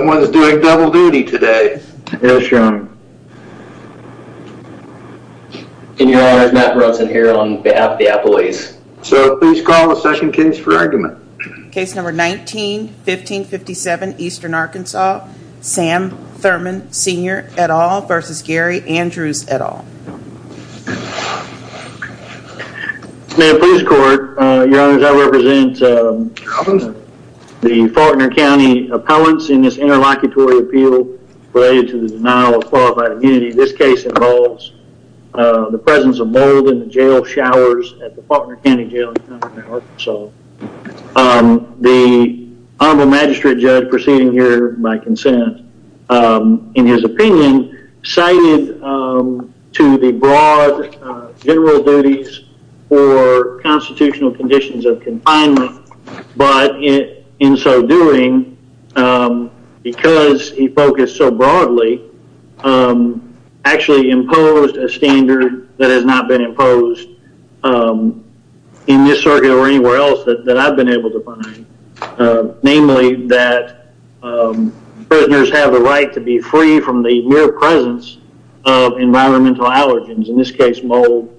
May I please report, your honors, I represent the Faulkner County appellants in this NRA interlocutory appeal related to the denial of qualified immunity. This case involves the presence of mold in the jail showers at the Faulkner County Jail in Cumberland, Arkansas. The Honorable Magistrate Judge proceeding here by consent, in his opinion, cited to the broad general duties for constitutional conditions of confinement, but in so doing, because he focused so broadly, actually imposed a standard that has not been imposed in this circuit or anywhere else that I've been able to find. Namely, that prisoners have the right to be free from the mere presence of environmental allergens, in this case, mold,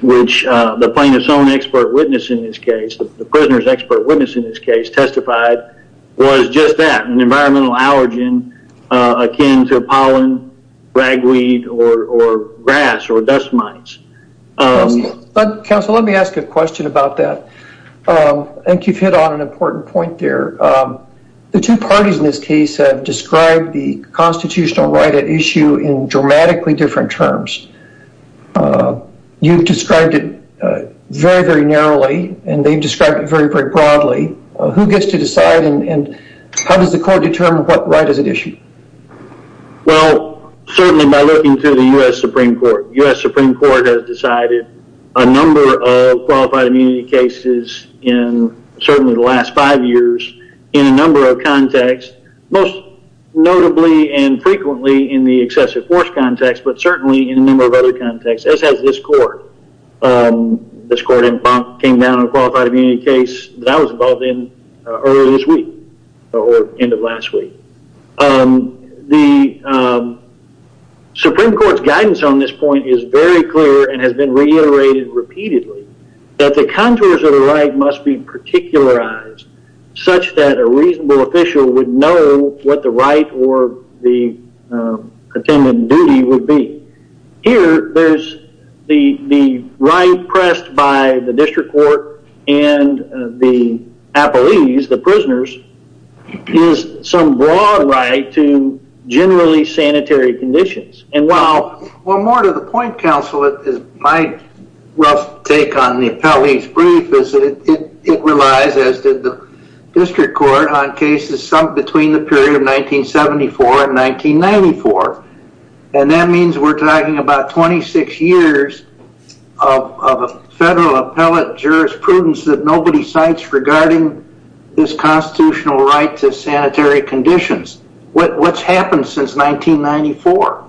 which the plaintiff's own expert witness in this case, the prisoner's expert witness in this case, testified was just that, an environmental allergen akin to pollen, ragweed, or grass or dust mites. Counsel, let me ask a question about that. I think you've hit on an important point there. The two parties in this case have described the constitutional right at issue in dramatically different terms. You've described it very, very narrowly, and they've described it very, very broadly. Who gets to decide and how does the court determine what right is at issue? Well, certainly by looking to the U.S. Supreme Court. The U.S. Supreme Court has decided a number of qualified immunity cases in certainly the last five years, in a number of contexts, most notably and frequently in the excessive force context, but certainly in a number of other contexts, as has this court. This court came down on a qualified immunity case that I was involved in earlier this week, or end of last week. The Supreme Court's guidance on this point is very clear and has been reiterated repeatedly, that the contours of the right must be particularized, such that a reasonable official would know what the right or the attendant duty would be. Here, there's the right pressed by the district court and the appellees, the prisoners, is some broad right to generally sanitary conditions. Well, more to the point, counsel, is my rough take on the appellee's brief is that it relies, as did the district court, on cases between the period of 1974 and 1994, and that means we're talking about 26 years of federal appellate jurisprudence that nobody cites regarding this constitutional right to sanitary conditions. What's happened since 1994?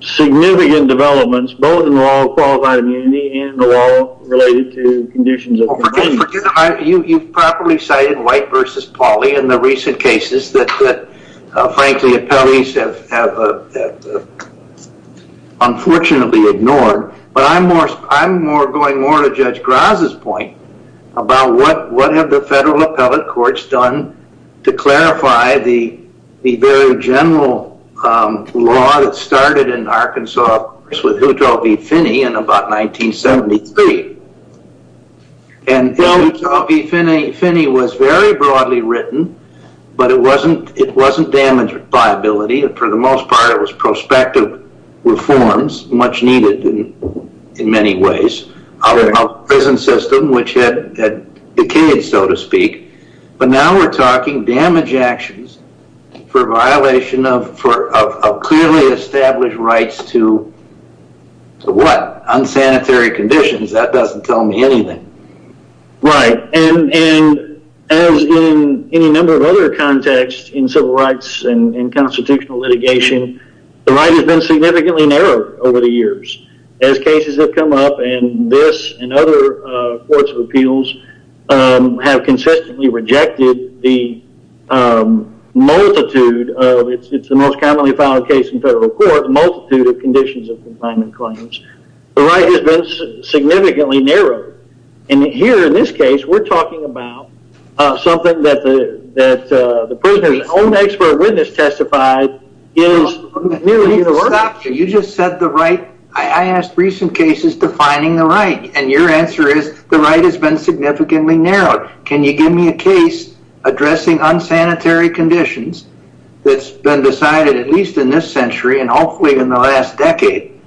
Significant developments, both in the law of qualified immunity and the law related to conditions of immunity. You've properly cited White v. Pauley in the recent cases that, frankly, appellees have unfortunately ignored, but I'm going more to Judge Graz's point about what have the federal appellate courts done to clarify the very general law that started in Arkansas with Hutto v. Finney in about 1973. Hutto v. Finney was very broadly written, but it wasn't damage liability. For the most part, it was prospective reforms, much needed in many ways, of the prison system, which had decayed, so to speak, but now we're talking damage actions for violation of clearly established rights to what? Unsanitary conditions. That doesn't tell me anything. Right, and as in any number of other contexts in civil rights and constitutional litigation, the right has been significantly narrowed over the years. As cases have come up, and this and other courts of appeals have consistently rejected the multitude of, it's the most commonly filed case in federal court, the multitude of conditions of confinement claims. The right has been significantly narrowed, and here in this case, we're talking about something that the prisoner's own expert witness testified. You just said the right. I asked recent cases defining the right, and your answer is the right has been significantly narrowed. Can you give me a case addressing unsanitary conditions that's been decided at least in this century, and hopefully in the last decade,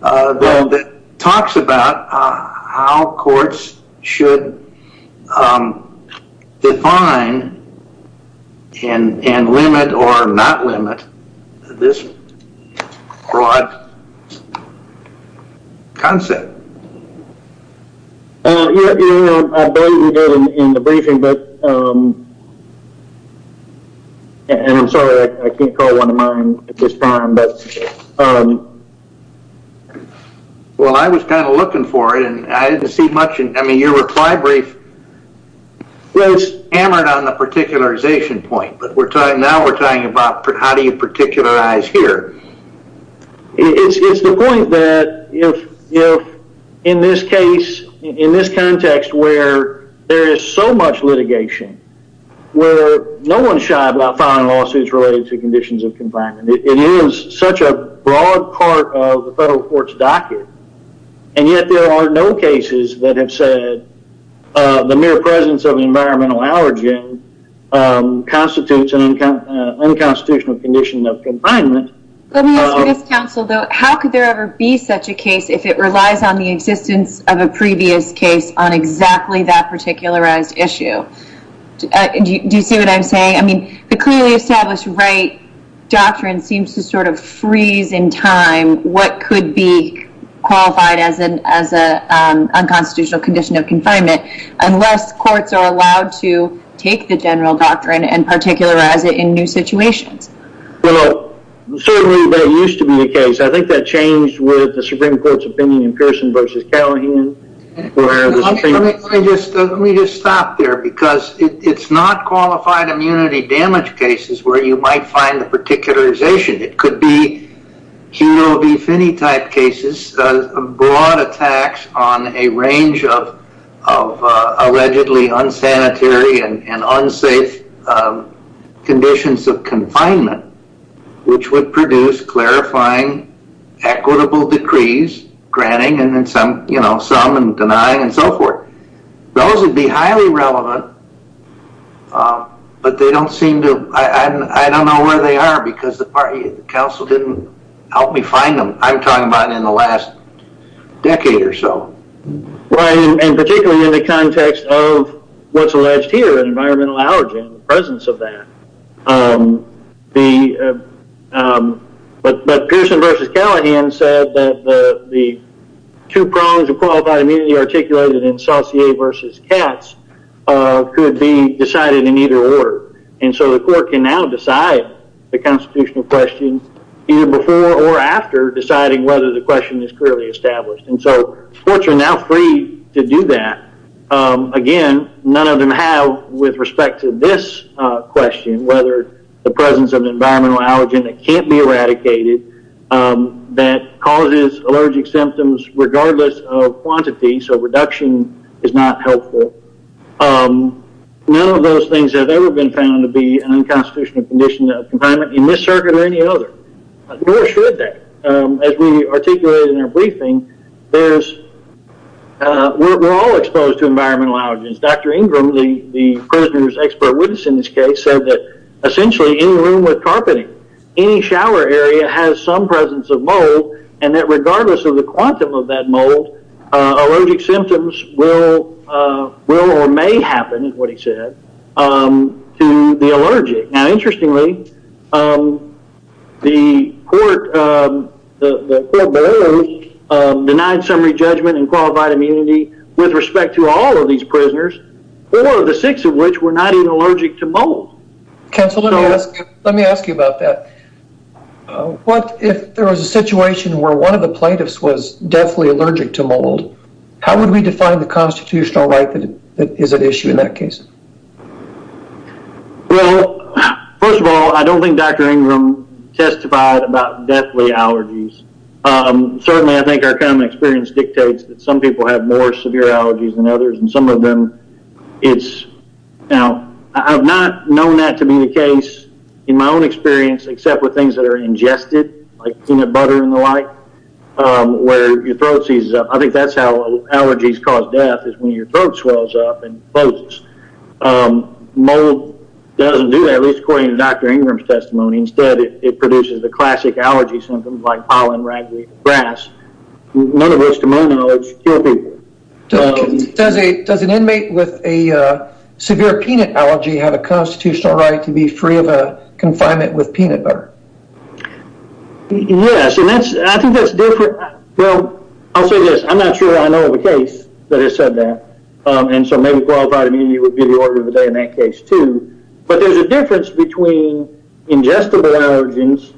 that talks about how courts should define and limit or not limit this broad concept? I believe we did in the briefing, and I'm sorry, I can't call one of mine at this time. Well, I was kind of looking for it, and I didn't see much. I mean, your reply brief was hammered on the particularization point, but now we're talking about how do you particularize here? It's the point that in this case, in this context where there is so much litigation, where no one's shy about filing lawsuits related to conditions of confinement. It is such a broad part of the federal court's docket, and yet there are no cases that have said the mere presence of an environmental allergen constitutes an unconstitutional condition of confinement. How could there ever be such a case if it relies on the existence of a previous case on exactly that particularized issue? Do you see what I'm saying? I mean, the clearly established right doctrine seems to sort of freeze in time what could be qualified as an unconstitutional condition of confinement, unless courts are allowed to take the general doctrine and particularize it in new situations. Well, certainly that used to be the case. I think that changed with the Supreme Court's opinion in Pearson v. Callahan. Let me just stop there, because it's not qualified immunity damage cases where you might find the particularization. It could be hero v. Phinney type cases, broad attacks on a range of allegedly unsanitary and unsafe conditions of confinement, which would produce clarifying equitable decrees, granting and then some, you know, some and denying and so forth. Those would be highly relevant, but they don't seem to... I don't know where they are, because the council didn't help me find them. I'm talking about in the last decade or so. Right, and particularly in the context of what's alleged here, an environmental allergen, the presence of that. But Pearson v. Callahan said that the two prongs of qualified immunity articulated in Saucier v. Katz could be decided in either order. And so the court can now decide the constitutional question either before or after deciding whether the question is clearly established. And so courts are now free to do that. Again, none of them have with respect to this question, whether the presence of an environmental allergen that can't be eradicated, that causes allergic symptoms regardless of quantity, so reduction is not helpful. None of those things have ever been found to be an unconstitutional condition of confinement in this circuit or any other. Nor should they. As we articulated in our briefing, we're all exposed to environmental allergens. Dr. Ingram, the prisoner's expert witness in this case, said that essentially any room with carpeting, any shower area has some presence of mold, and that regardless of the quantum of that mold, allergic symptoms will or may happen, is what he said, to the allergic. Now, interestingly, the court, the court below, denied summary judgment in qualified immunity with respect to all of these prisoners, four of the six of which were not even allergic to mold. Counsel, let me ask you about that. What if there was a situation where one of the plaintiffs was deathly allergic to mold, how would we define the constitutional right that is at issue in that case? Well, first of all, I don't think Dr. Ingram testified about deathly allergies. Certainly, I think our common experience dictates that some people have more severe allergies than others, and some of them it's, now, I've not known that to be the case in my own experience, except with things that are ingested, like peanut butter and the like, where your throat seizes up. I think that's how allergies cause death, is when your throat swells up and closes. Mold doesn't do that, at least according to Dr. Ingram's testimony. Instead, it produces the classic allergy symptoms, like pollen, ragweed, grass, none of which, to my knowledge, kill people. Does an inmate with a severe peanut allergy have a constitutional right to be free of a confinement with peanut butter? Yes, and I think that's different. Well, I'll say this, I'm not sure I know of a case that has said that, and so maybe qualified immunity would be the order of the day in that case, too, but there's a difference between ingestible allergens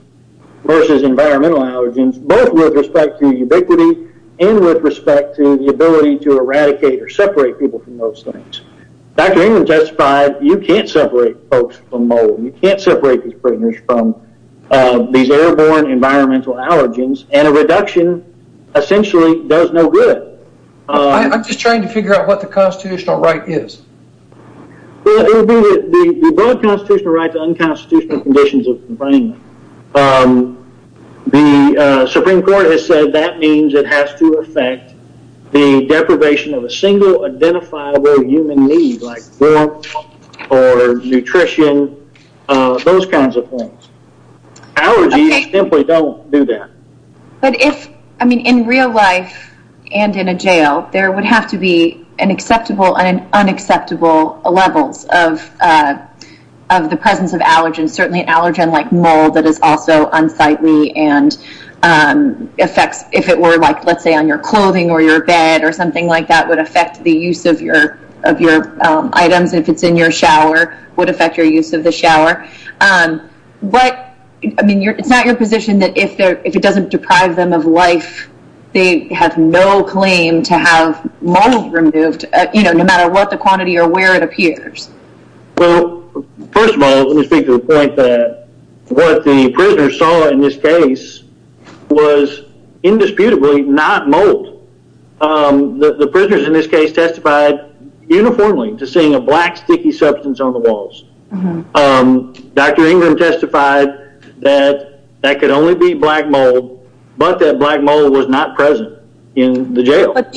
versus environmental allergens, both with respect to ubiquity and with respect to the ability to eradicate or separate people from those things. Dr. Ingram testified, you can't separate folks from mold. You can't separate these prisoners from these airborne environmental allergens, and a reduction essentially does no good. I'm just trying to figure out what the constitutional right is. Well, it would be the broad constitutional right to unconstitutional conditions of confinement. The Supreme Court has said that means it has to affect the deprivation of a single identifiable human need, like warmth or nutrition, those kinds of things. Allergies simply don't do that. In real life and in a jail, there would have to be an acceptable and an unacceptable levels of the presence of allergens, certainly an allergen like mold that is also unsightly and affects, if it were, let's say on your clothing or your bed or something like that would affect the use of your items. If it's in your shower, it would affect your use of the shower. It's not your position that if it doesn't deprive them of life, they have no claim to have mold removed, no matter what the quantity or where it appears. Well, first of all, let me speak to the point that what the prisoners saw in this case was indisputably not mold. The prisoners in this case testified uniformly to seeing a black sticky substance on the walls. Dr. Ingram testified that that could only be black mold, but that black mold was not present in the jail. But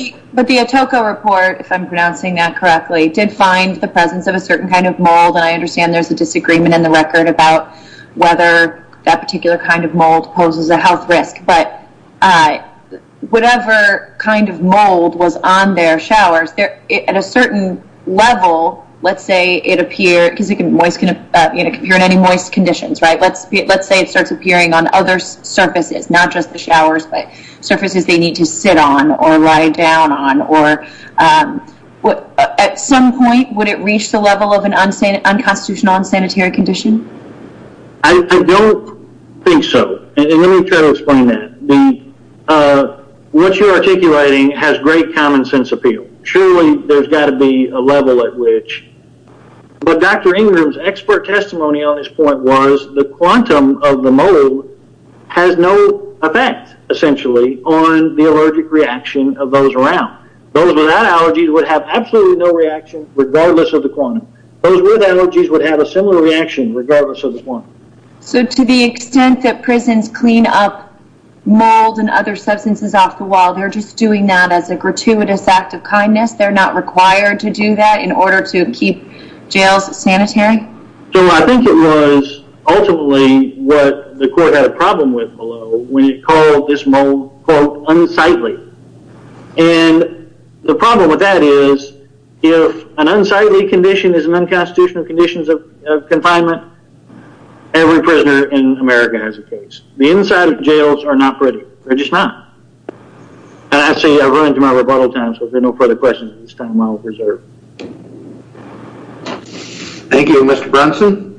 the Atoko report, if I'm pronouncing that correctly, did find the presence of a certain kind of mold, and I understand there's a disagreement in the record about whether that particular kind of mold poses a health risk, but whatever kind of mold was on their showers, at a certain level, let's say it appears in any moist conditions, right? Let's say it starts appearing on other surfaces, not just the showers, but surfaces they need to sit on or lie down on. At some point, would it reach the level of an unconstitutional, unsanitary condition? I don't think so. Let me try to explain that. What you're articulating has great common sense appeal. Surely there's got to be a level at which, but Dr. Ingram's expert testimony on this point was the quantum of the mold has no effect, essentially, on the allergic reaction of those around. Those without allergies would have absolutely no reaction, regardless of the quantum. Those with allergies would have a similar reaction, regardless of the quantum. So to the extent that prisons clean up mold and other substances off the wall, they're just doing that as a gratuitous act of kindness? They're not required to do that in order to keep jails sanitary? I think it was ultimately what the court had a problem with below when it called this mold, quote, unsightly. The problem with that is if an unsightly condition is an unconstitutional condition of confinement, every prisoner in America has a case. The inside of jails are not pretty. They're just not. And I say I'll run into my rebuttal time, so if there are no further questions at this time, I'll reserve. Thank you. Mr. Brunson?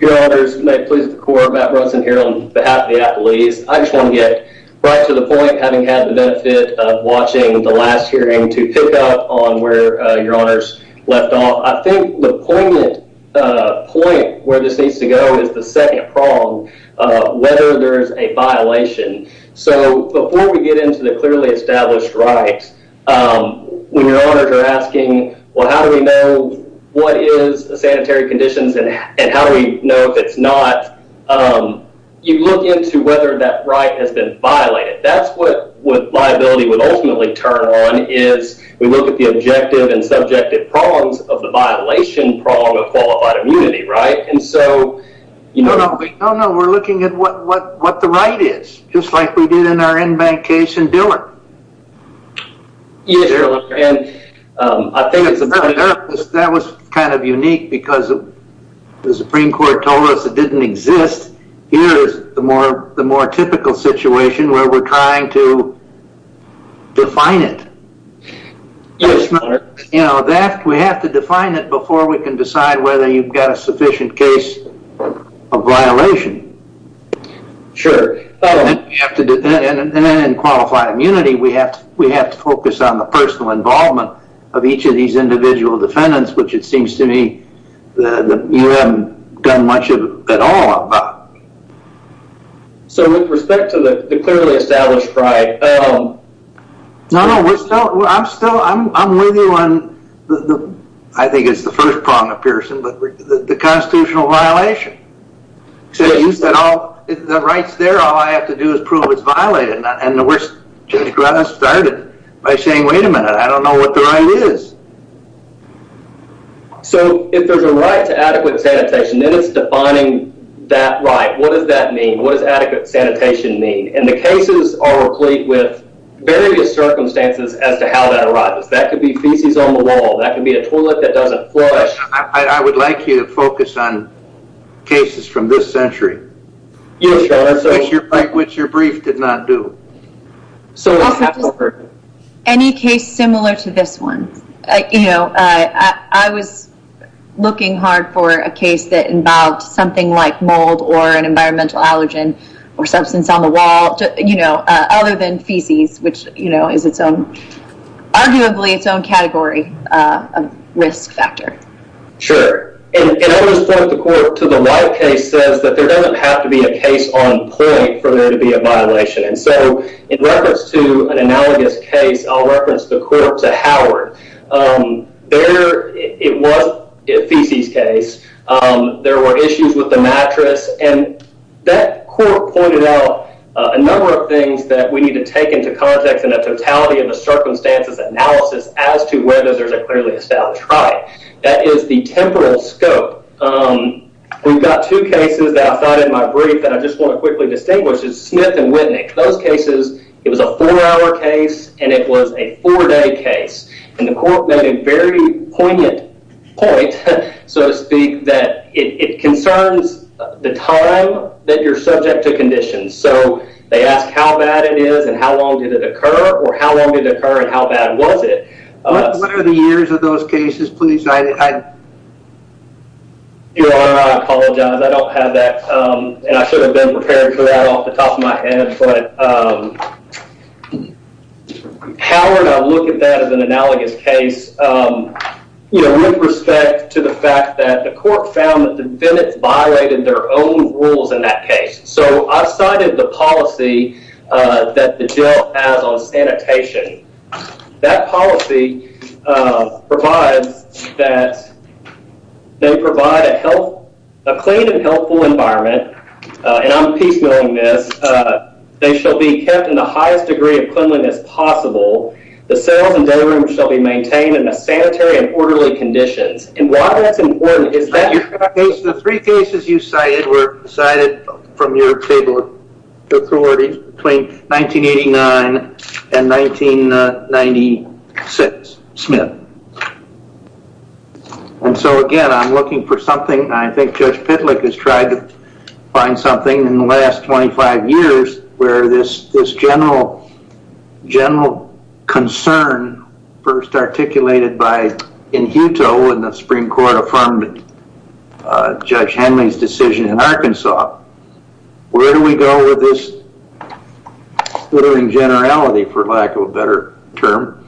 Your honors, may it please the court, Matt Brunson here on behalf of the Apple East. I just want to get right to the point, having had the benefit of watching the last hearing, to pick up on where your honors left off. I think the poignant point where this needs to go is the second prong. Whether there's a violation. So before we get into the clearly established right, when your honors are asking, well, how do we know what is sanitary conditions and how do we know if it's not, you look into whether that right has been violated. That's what liability would ultimately turn on is we look at the objective and subjective prongs of the violation prong of qualified immunity, right? No, no, we're looking at what the right is. Just like we did in our in-bank case in Dillard. Yes, your honor. That was kind of unique because the Supreme Court told us it didn't exist. Here is the more typical situation where we're trying to define it. Yes, your honor. We have to define it before we can decide whether you've got a sufficient case of violation. Sure. And then in qualified immunity, we have to focus on the personal involvement of each of these individual defendants, which it seems to me you haven't done much at all about. So with respect to the clearly established right. No, no, we're still, I'm still, I'm with you on the, I think it's the first prong of Pearson, but the constitutional violation. So you said all the rights there, all I have to do is prove it's violated. And we're just getting started by saying, wait a minute, I don't know what the right is. So if there's a right to adequate sanitation, then it's defining that right. What does that mean? What does adequate sanitation mean? And the cases are replete with various circumstances as to how that arrives. That could be feces on the wall. That could be a toilet that doesn't flush. I would like you to focus on cases from this century. Yes, your honor. Which your brief did not do. Any case similar to this one. You know, I was looking hard for a case that involved something like mold or an environmental allergen or substance on the wall, you know, other than feces, which, you know, is its own, arguably its own category of risk factor. Sure. And I always thought the court to the right case says that there doesn't have to be a case on point for there to be a violation. And so in reference to an analogous case, I'll reference the court to Howard. There, it was a feces case. There were issues with the mattress. And that court pointed out a number of things that we need to take into context in a totality of a circumstances analysis as to whether there's a clearly established right. That is the temporal scope. We've got two cases that I thought in my brief that I just want to quickly distinguish is Smith and Wittnick. Those cases, it was a four hour case and it was a four day case. And the court made a very poignant point, so to speak, that it concerns the time that you're subject to conditions. So they ask how bad it is and how long did it occur or how long did it occur and how bad was it? What are the years of those cases, please? Your Honor, I apologize. I don't have that. And I should have been prepared for that off the top of my head. But Howard, I look at that as an analogous case with respect to the fact that the court found that the defendants violated their own rules in that case. So I cited the policy that the jail has on sanitation. That policy provides that they provide a clean and healthful environment. And I'm piecemealing this. They shall be kept in the highest degree of cleanliness possible. The cells and day rooms shall be maintained in the sanitary and orderly conditions. And why that's important is that- The three cases you cited were cited from your table of authorities between 1989 and 1996. Smith. And so, again, I'm looking for something. I think Judge Pitlick has tried to find something in the last 25 years where this general concern first articulated by Inhuto when the Supreme Court affirmed Judge Henley's decision in Arkansas. Where do we go with this? We're doing generality, for lack of a better term.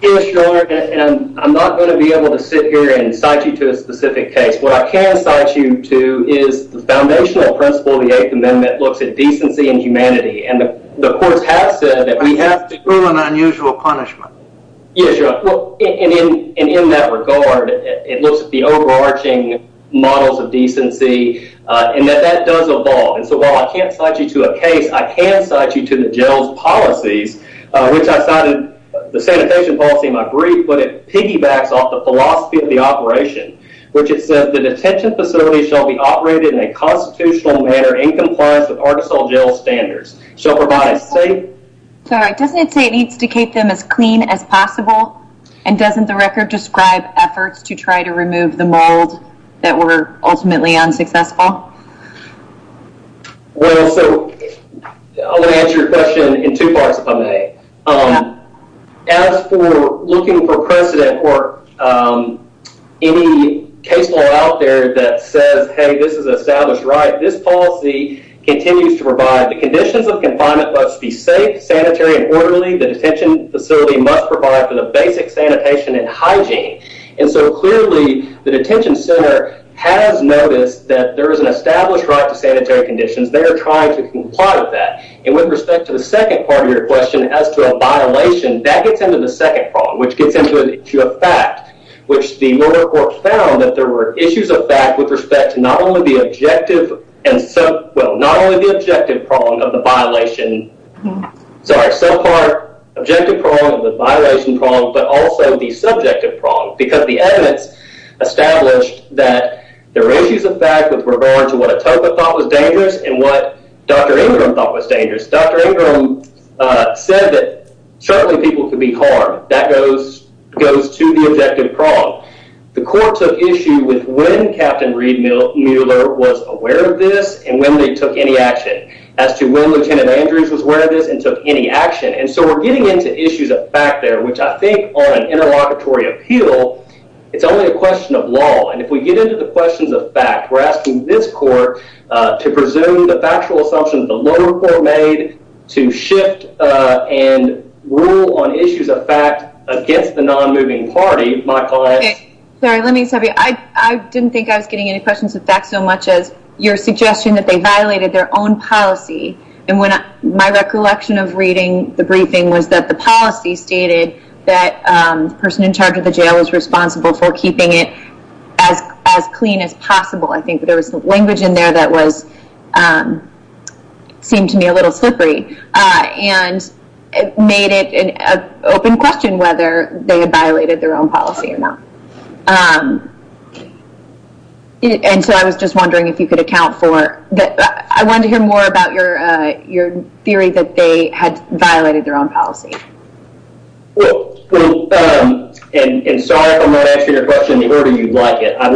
Yes, Your Honor. And I'm not going to be able to sit here and cite you to a specific case. What I can cite you to is the foundational principle of the Eighth Amendment looks at decency and humanity. And the courts have said that we have to- An unusual punishment. Yes, Your Honor. And in that regard, it looks at the overarching models of decency and that that does evolve. And so, while I can't cite you to a case, I can cite you to the jail's policies, which I cited the sanitation policy in my brief. But it piggybacks off the philosophy of the operation, which it says, The detention facility shall be operated in a constitutional manner in compliance with Arkansas jail standards. Shall provide a safe- Doesn't it say it needs to keep them as clean as possible? And doesn't the record describe efforts to try to remove the mold that were ultimately unsuccessful? Well, so, I'm going to answer your question in two parts if I may. As for looking for precedent or any case law out there that says, Hey, this is an established right, this policy continues to provide the conditions of confinement must be safe, sanitary, and orderly. The detention facility must provide for the basic sanitation and hygiene. And so, clearly, the detention center has noticed that there is an established right to sanitary conditions. They are trying to comply with that. And with respect to the second part of your question, as to a violation, that gets into the second prong, which gets into a fact. Which the murder court found that there were issues of fact with respect to not only the objective- Well, not only the objective prong of the violation- Sorry, subpart, objective prong of the violation prong, but also the subjective prong. Because the evidence established that there were issues of fact with regard to what Atoka thought was dangerous and what Dr. Ingram thought was dangerous. Dr. Ingram said that certainly people could be harmed. That goes to the objective prong. The court took issue with when Captain Reed Mueller was aware of this and when they took any action. As to when Lieutenant Andrews was aware of this and took any action. And so we're getting into issues of fact there, which I think on an interlocutory appeal, it's only a question of law. And if we get into the questions of fact, we're asking this court to presume the factual assumptions the lower court made. To shift and rule on issues of fact against the non-moving party, my client- Sorry, let me just tell you, I didn't think I was getting any questions of fact so much as your suggestion that they violated their own policy. My recollection of reading the briefing was that the policy stated that the person in charge of the jail was responsible for keeping it as clean as possible. I think there was some language in there that seemed to me a little slippery. And made it an open question whether they had violated their own policy or not. And so I was just wondering if you could account for- I wanted to hear more about your theory that they had violated their own policy. Well, and sorry if I'm not answering your question in the order you'd like it. I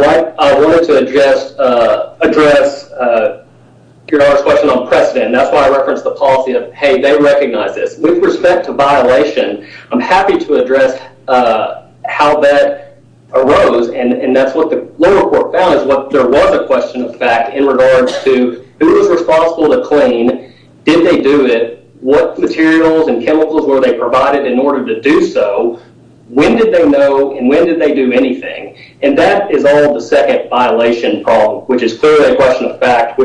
wanted to address your last question on precedent. That's why I referenced the policy of, hey, they recognize this. With respect to violation, I'm happy to address how that arose. And that's what the lower court found. There was a question of fact in regards to who was responsible to clean. Did they do it? What materials and chemicals were they provided in order to do so? When did they know and when did they do anything? And that is all the second violation problem. Which is clearly a question of fact.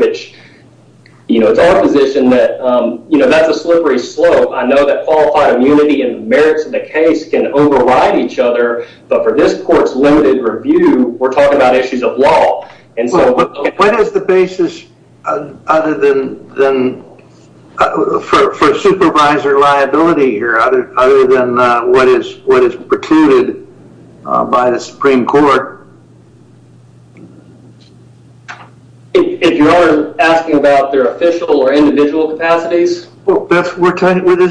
It's our position that that's a slippery slope. I know that qualified immunity and the merits of the case can override each other. But for this court's limited review, we're talking about issues of law. What is the basis for supervisor liability here? Other than what is precluded by the Supreme Court? If you are asking about their official or individual capacities? Well, this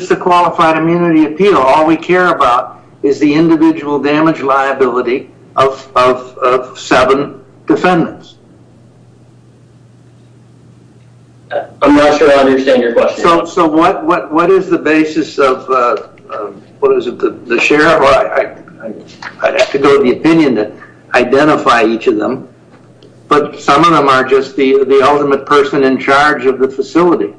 is a qualified immunity appeal. All we care about is the individual damage liability of seven defendants. I'm not sure I understand your question. So what is the basis of the sheriff? I'd have to go to the opinion to identify each of them. But some of them are just the ultimate person in charge of the facility.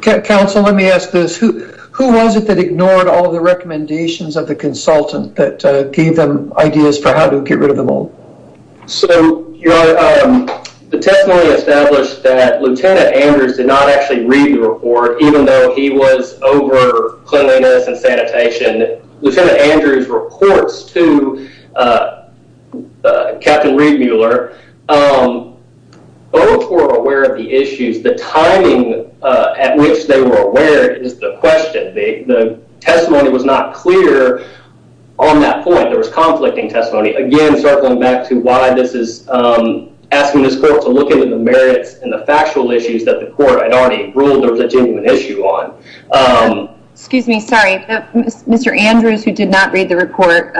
Counsel, let me ask this. Who was it that ignored all the recommendations of the consultant that gave them ideas for how to get rid of them all? So the testimony established that Lieutenant Andrews did not actually Lieutenant Andrews reports to Captain Reed Mueller. Both were aware of the issues. The timing at which they were aware is the question. The testimony was not clear on that point. There was conflicting testimony. Again, circling back to why this is asking this court to look into the merits and the factual issues that the court had already ruled there was a genuine issue on. Excuse me. Sorry, Mr. Andrews, who did not read the report.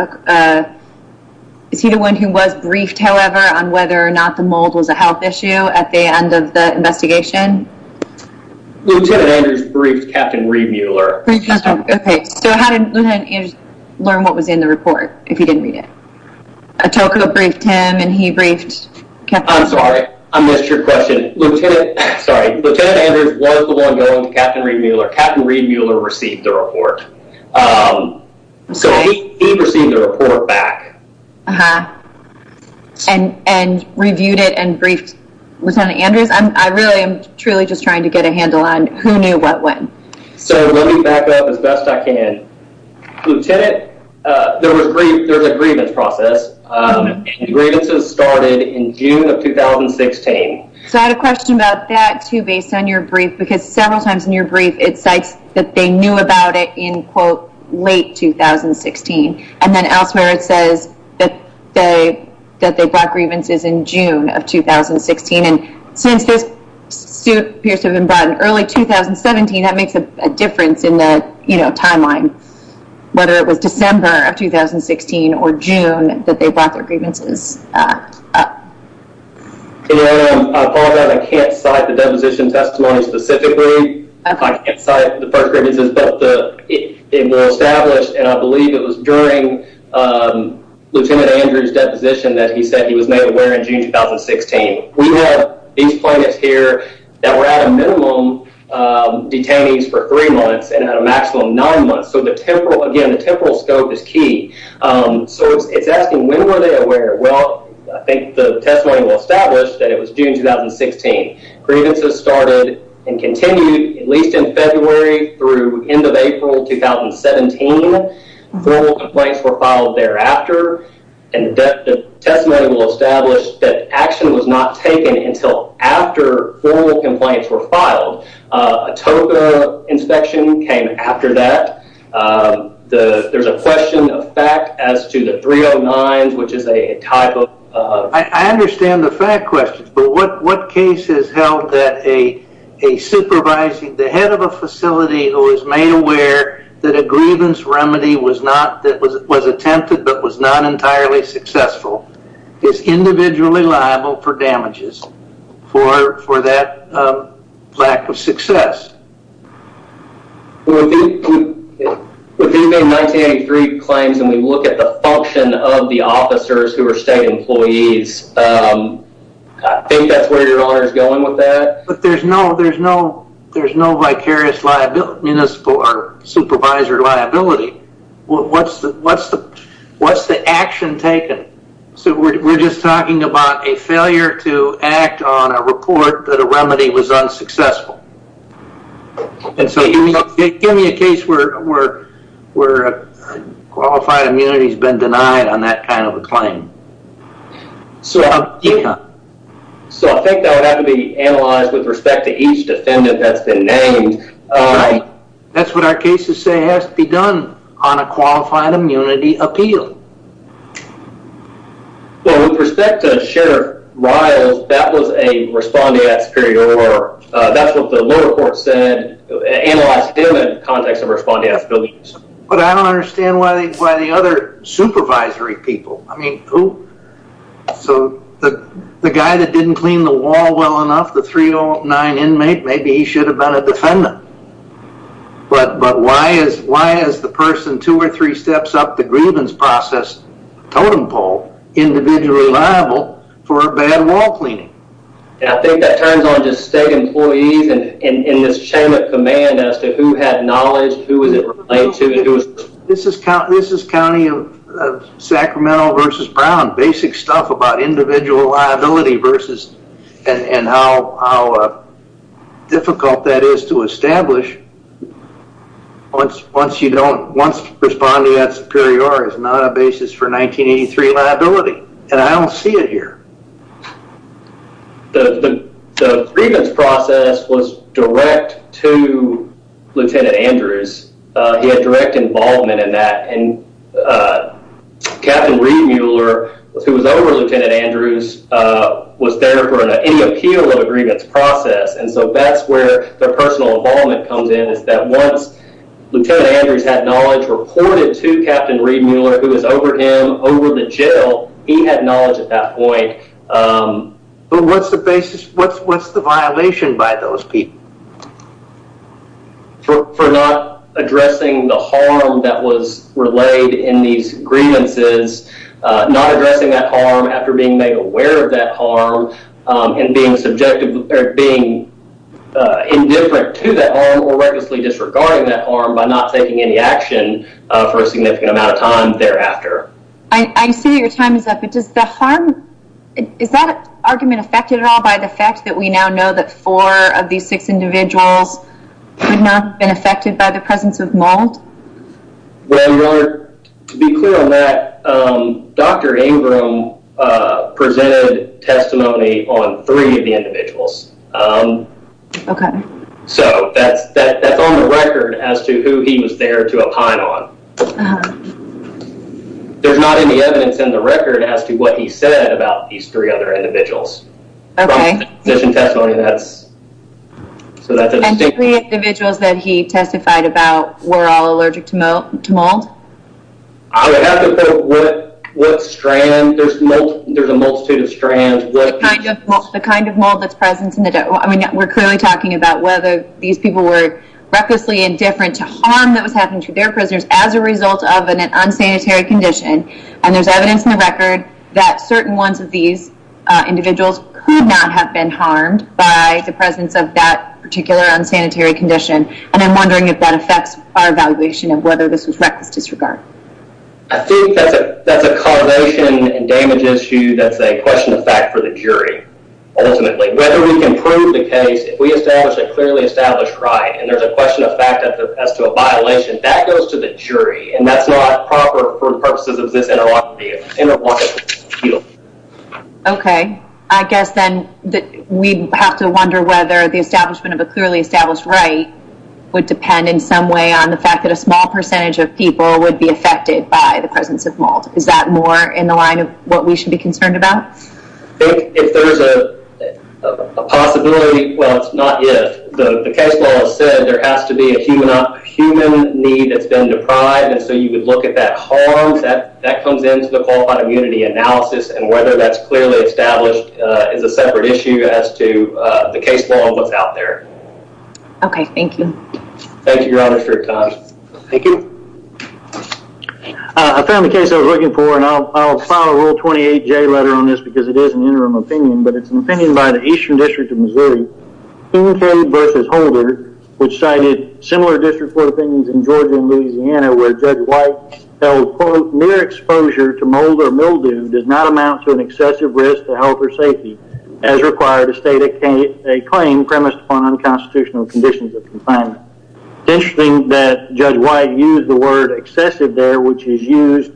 Is he the one who was briefed, however, on whether or not the mold was a health issue at the end of the investigation? Lieutenant Andrews briefed Captain Reed Mueller. Okay. So how did Lieutenant Andrews learn what was in the report if he didn't read it? Atoko briefed him and he briefed Captain. I'm sorry. I missed your question. Lieutenant Andrews was the one going to Captain Reed Mueller. Captain Reed Mueller received the report. So he received the report back. And reviewed it and briefed Lieutenant Andrews? I really am truly just trying to get a handle on who knew what when. So let me back up as best I can. Lieutenant, there was a grievance process. And the grievances started in June of 2016. So I had a question about that, too, based on your brief. Because several times in your brief it cites that they knew about it in, quote, late 2016. And then elsewhere it says that they brought grievances in June of 2016. And since this suit appears to have been brought in early 2017, that makes a difference in the timeline. Whether it was December of 2016 or June that they brought their grievances up. I apologize. I can't cite the deposition testimony specifically. I can't cite the first grievances. But they were established, and I believe it was during Lieutenant Andrews' deposition that he said he was made aware in June 2016. We have these plaintiffs here that were out of minimum detainees for three months and out of maximum nine months. So, again, the temporal scope is key. So it's asking when were they aware? Well, I think the testimony will establish that it was June 2016. Grievances started and continued at least in February through end of April 2017. Formal complaints were filed thereafter. And the testimony will establish that action was not taken until after formal complaints were filed. A TOGA inspection came after that. There's a question of fact as to the 309s, which is a type of... I understand the fact question. But what case has held that a supervising, the head of a facility who was made aware that a grievance remedy was attempted but was not entirely successful, is individually liable for damages for that lack of success? With the 1983 claims, and we look at the function of the officers who were state employees, I think that's where your honor is going with that. But there's no vicarious liability, or supervisor liability. What's the action taken? So we're just talking about a failure to act on a report that a remedy was unsuccessful. Give me a case where qualified immunity has been denied on that kind of a claim. So I think that would have to be analyzed with respect to each defendant that's been named. That's what our cases say has to be done on a qualified immunity appeal. With respect to Sheriff Riles, that was a respondeat superior. That's what the lower court said, analyzed him in the context of respondeat abilities. But I don't understand why the other supervisory people... So the guy that didn't clean the wall well enough, the 309 inmate, maybe he should have been a defendant. But why is the person two or three steps up the grievance process, totem pole, individually liable for a bad wall cleaning? I think that turns on just state employees in this chain of command as to who had knowledge, who was it related to, and who was... This is county of Sacramento versus Brown. Basic stuff about individual liability versus... And how difficult that is to establish once you don't... Once respondeat superior is not a basis for 1983 liability. And I don't see it here. The grievance process was direct to Lieutenant Andrews. He had direct involvement in that. And Captain Reed Mueller, who was over Lieutenant Andrews, was there for any appeal of a grievance process. And so that's where the personal involvement comes in. It's that once Lieutenant Andrews had knowledge reported to Captain Reed Mueller, who was over him, over the jail, he had knowledge at that point. But what's the violation by those people? For not addressing the harm that was relayed in these grievances, not addressing that harm after being made aware of that harm, and being subjective or being indifferent to that harm or recklessly disregarding that harm by not taking any action for a significant amount of time thereafter. I see that your time is up, but does the harm... Is that argument affected at all by the fact that we now know that four of these six individuals would not have been affected by the presence of Mould? Well, Your Honor, to be clear on that, Dr. Ingram presented testimony on three of the individuals. Okay. So that's on the record as to who he was there to opine on. There's not any evidence in the record as to what he said about these three other individuals. Okay. From his testimony, that's... And the three individuals that he testified about were all allergic to Mould? I would have to put what strand. There's a multitude of strands. The kind of Mould that's present in the... We're clearly talking about whether these people were recklessly indifferent to harm that was happening to their prisoners as a result of an unsanitary condition. And there's evidence in the record that certain ones of these individuals could not have been harmed by the presence of that particular unsanitary condition. And I'm wondering if that affects our evaluation of whether this was reckless disregard. I think that's a causation and damage issue that's a question of fact for the jury, ultimately. Whether we can prove the case, if we establish a clearly established right, and there's a question of fact as to a violation, that goes to the jury. And that's not proper for purposes of this interlocutory field. Okay. I guess then that we'd have to wonder whether the establishment of a clearly established right would depend in some way on the fact that a small percentage of people would be affected by the presence of Mould. Is that more in the line of what we should be concerned about? I think if there's a possibility... Well, it's not if. The case law has said there has to be a human need that's been deprived, and so you would look at that harm. That comes into the qualified immunity analysis, and whether that's clearly established is a separate issue as to the case law and what's out there. Okay. Thank you. Thank you, Your Honor, for your time. Thank you. I found the case I was looking for, and I'll file a Rule 28J letter on this because it is an interim opinion, but it's an opinion by the Eastern District of Missouri, Kincaid v. Holder, which cited similar district court opinions in Georgia and Louisiana where Judge White held, quote, mere exposure to Mould or Mildew does not amount to an excessive risk to health or safety as required to state a claim premised upon unconstitutional conditions of confinement. It's interesting that Judge White used the word excessive there, which is used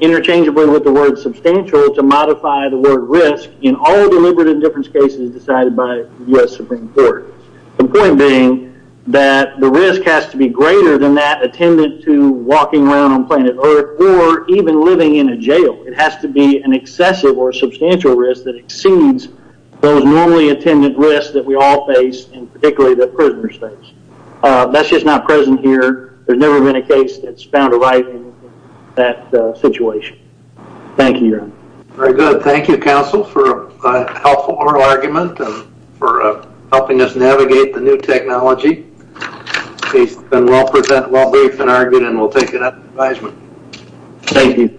interchangeably with the word substantial to modify the word risk in all deliberative difference cases decided by U.S. Supreme Court. The point being that the risk has to be greater than that attendant to walking around on planet Earth or even living in a jail. It has to be an excessive or substantial risk that exceeds those normally attendant risks that we all face, and particularly the prisoner's face. That's just not present here. There's never been a case that's found arriving in that situation. Thank you, Your Honor. Very good. Thank you, counsel, for a helpful oral argument and for helping us navigate the new technology. The case has been well presented, well briefed and argued, and we'll take it up in advisement. Thank you.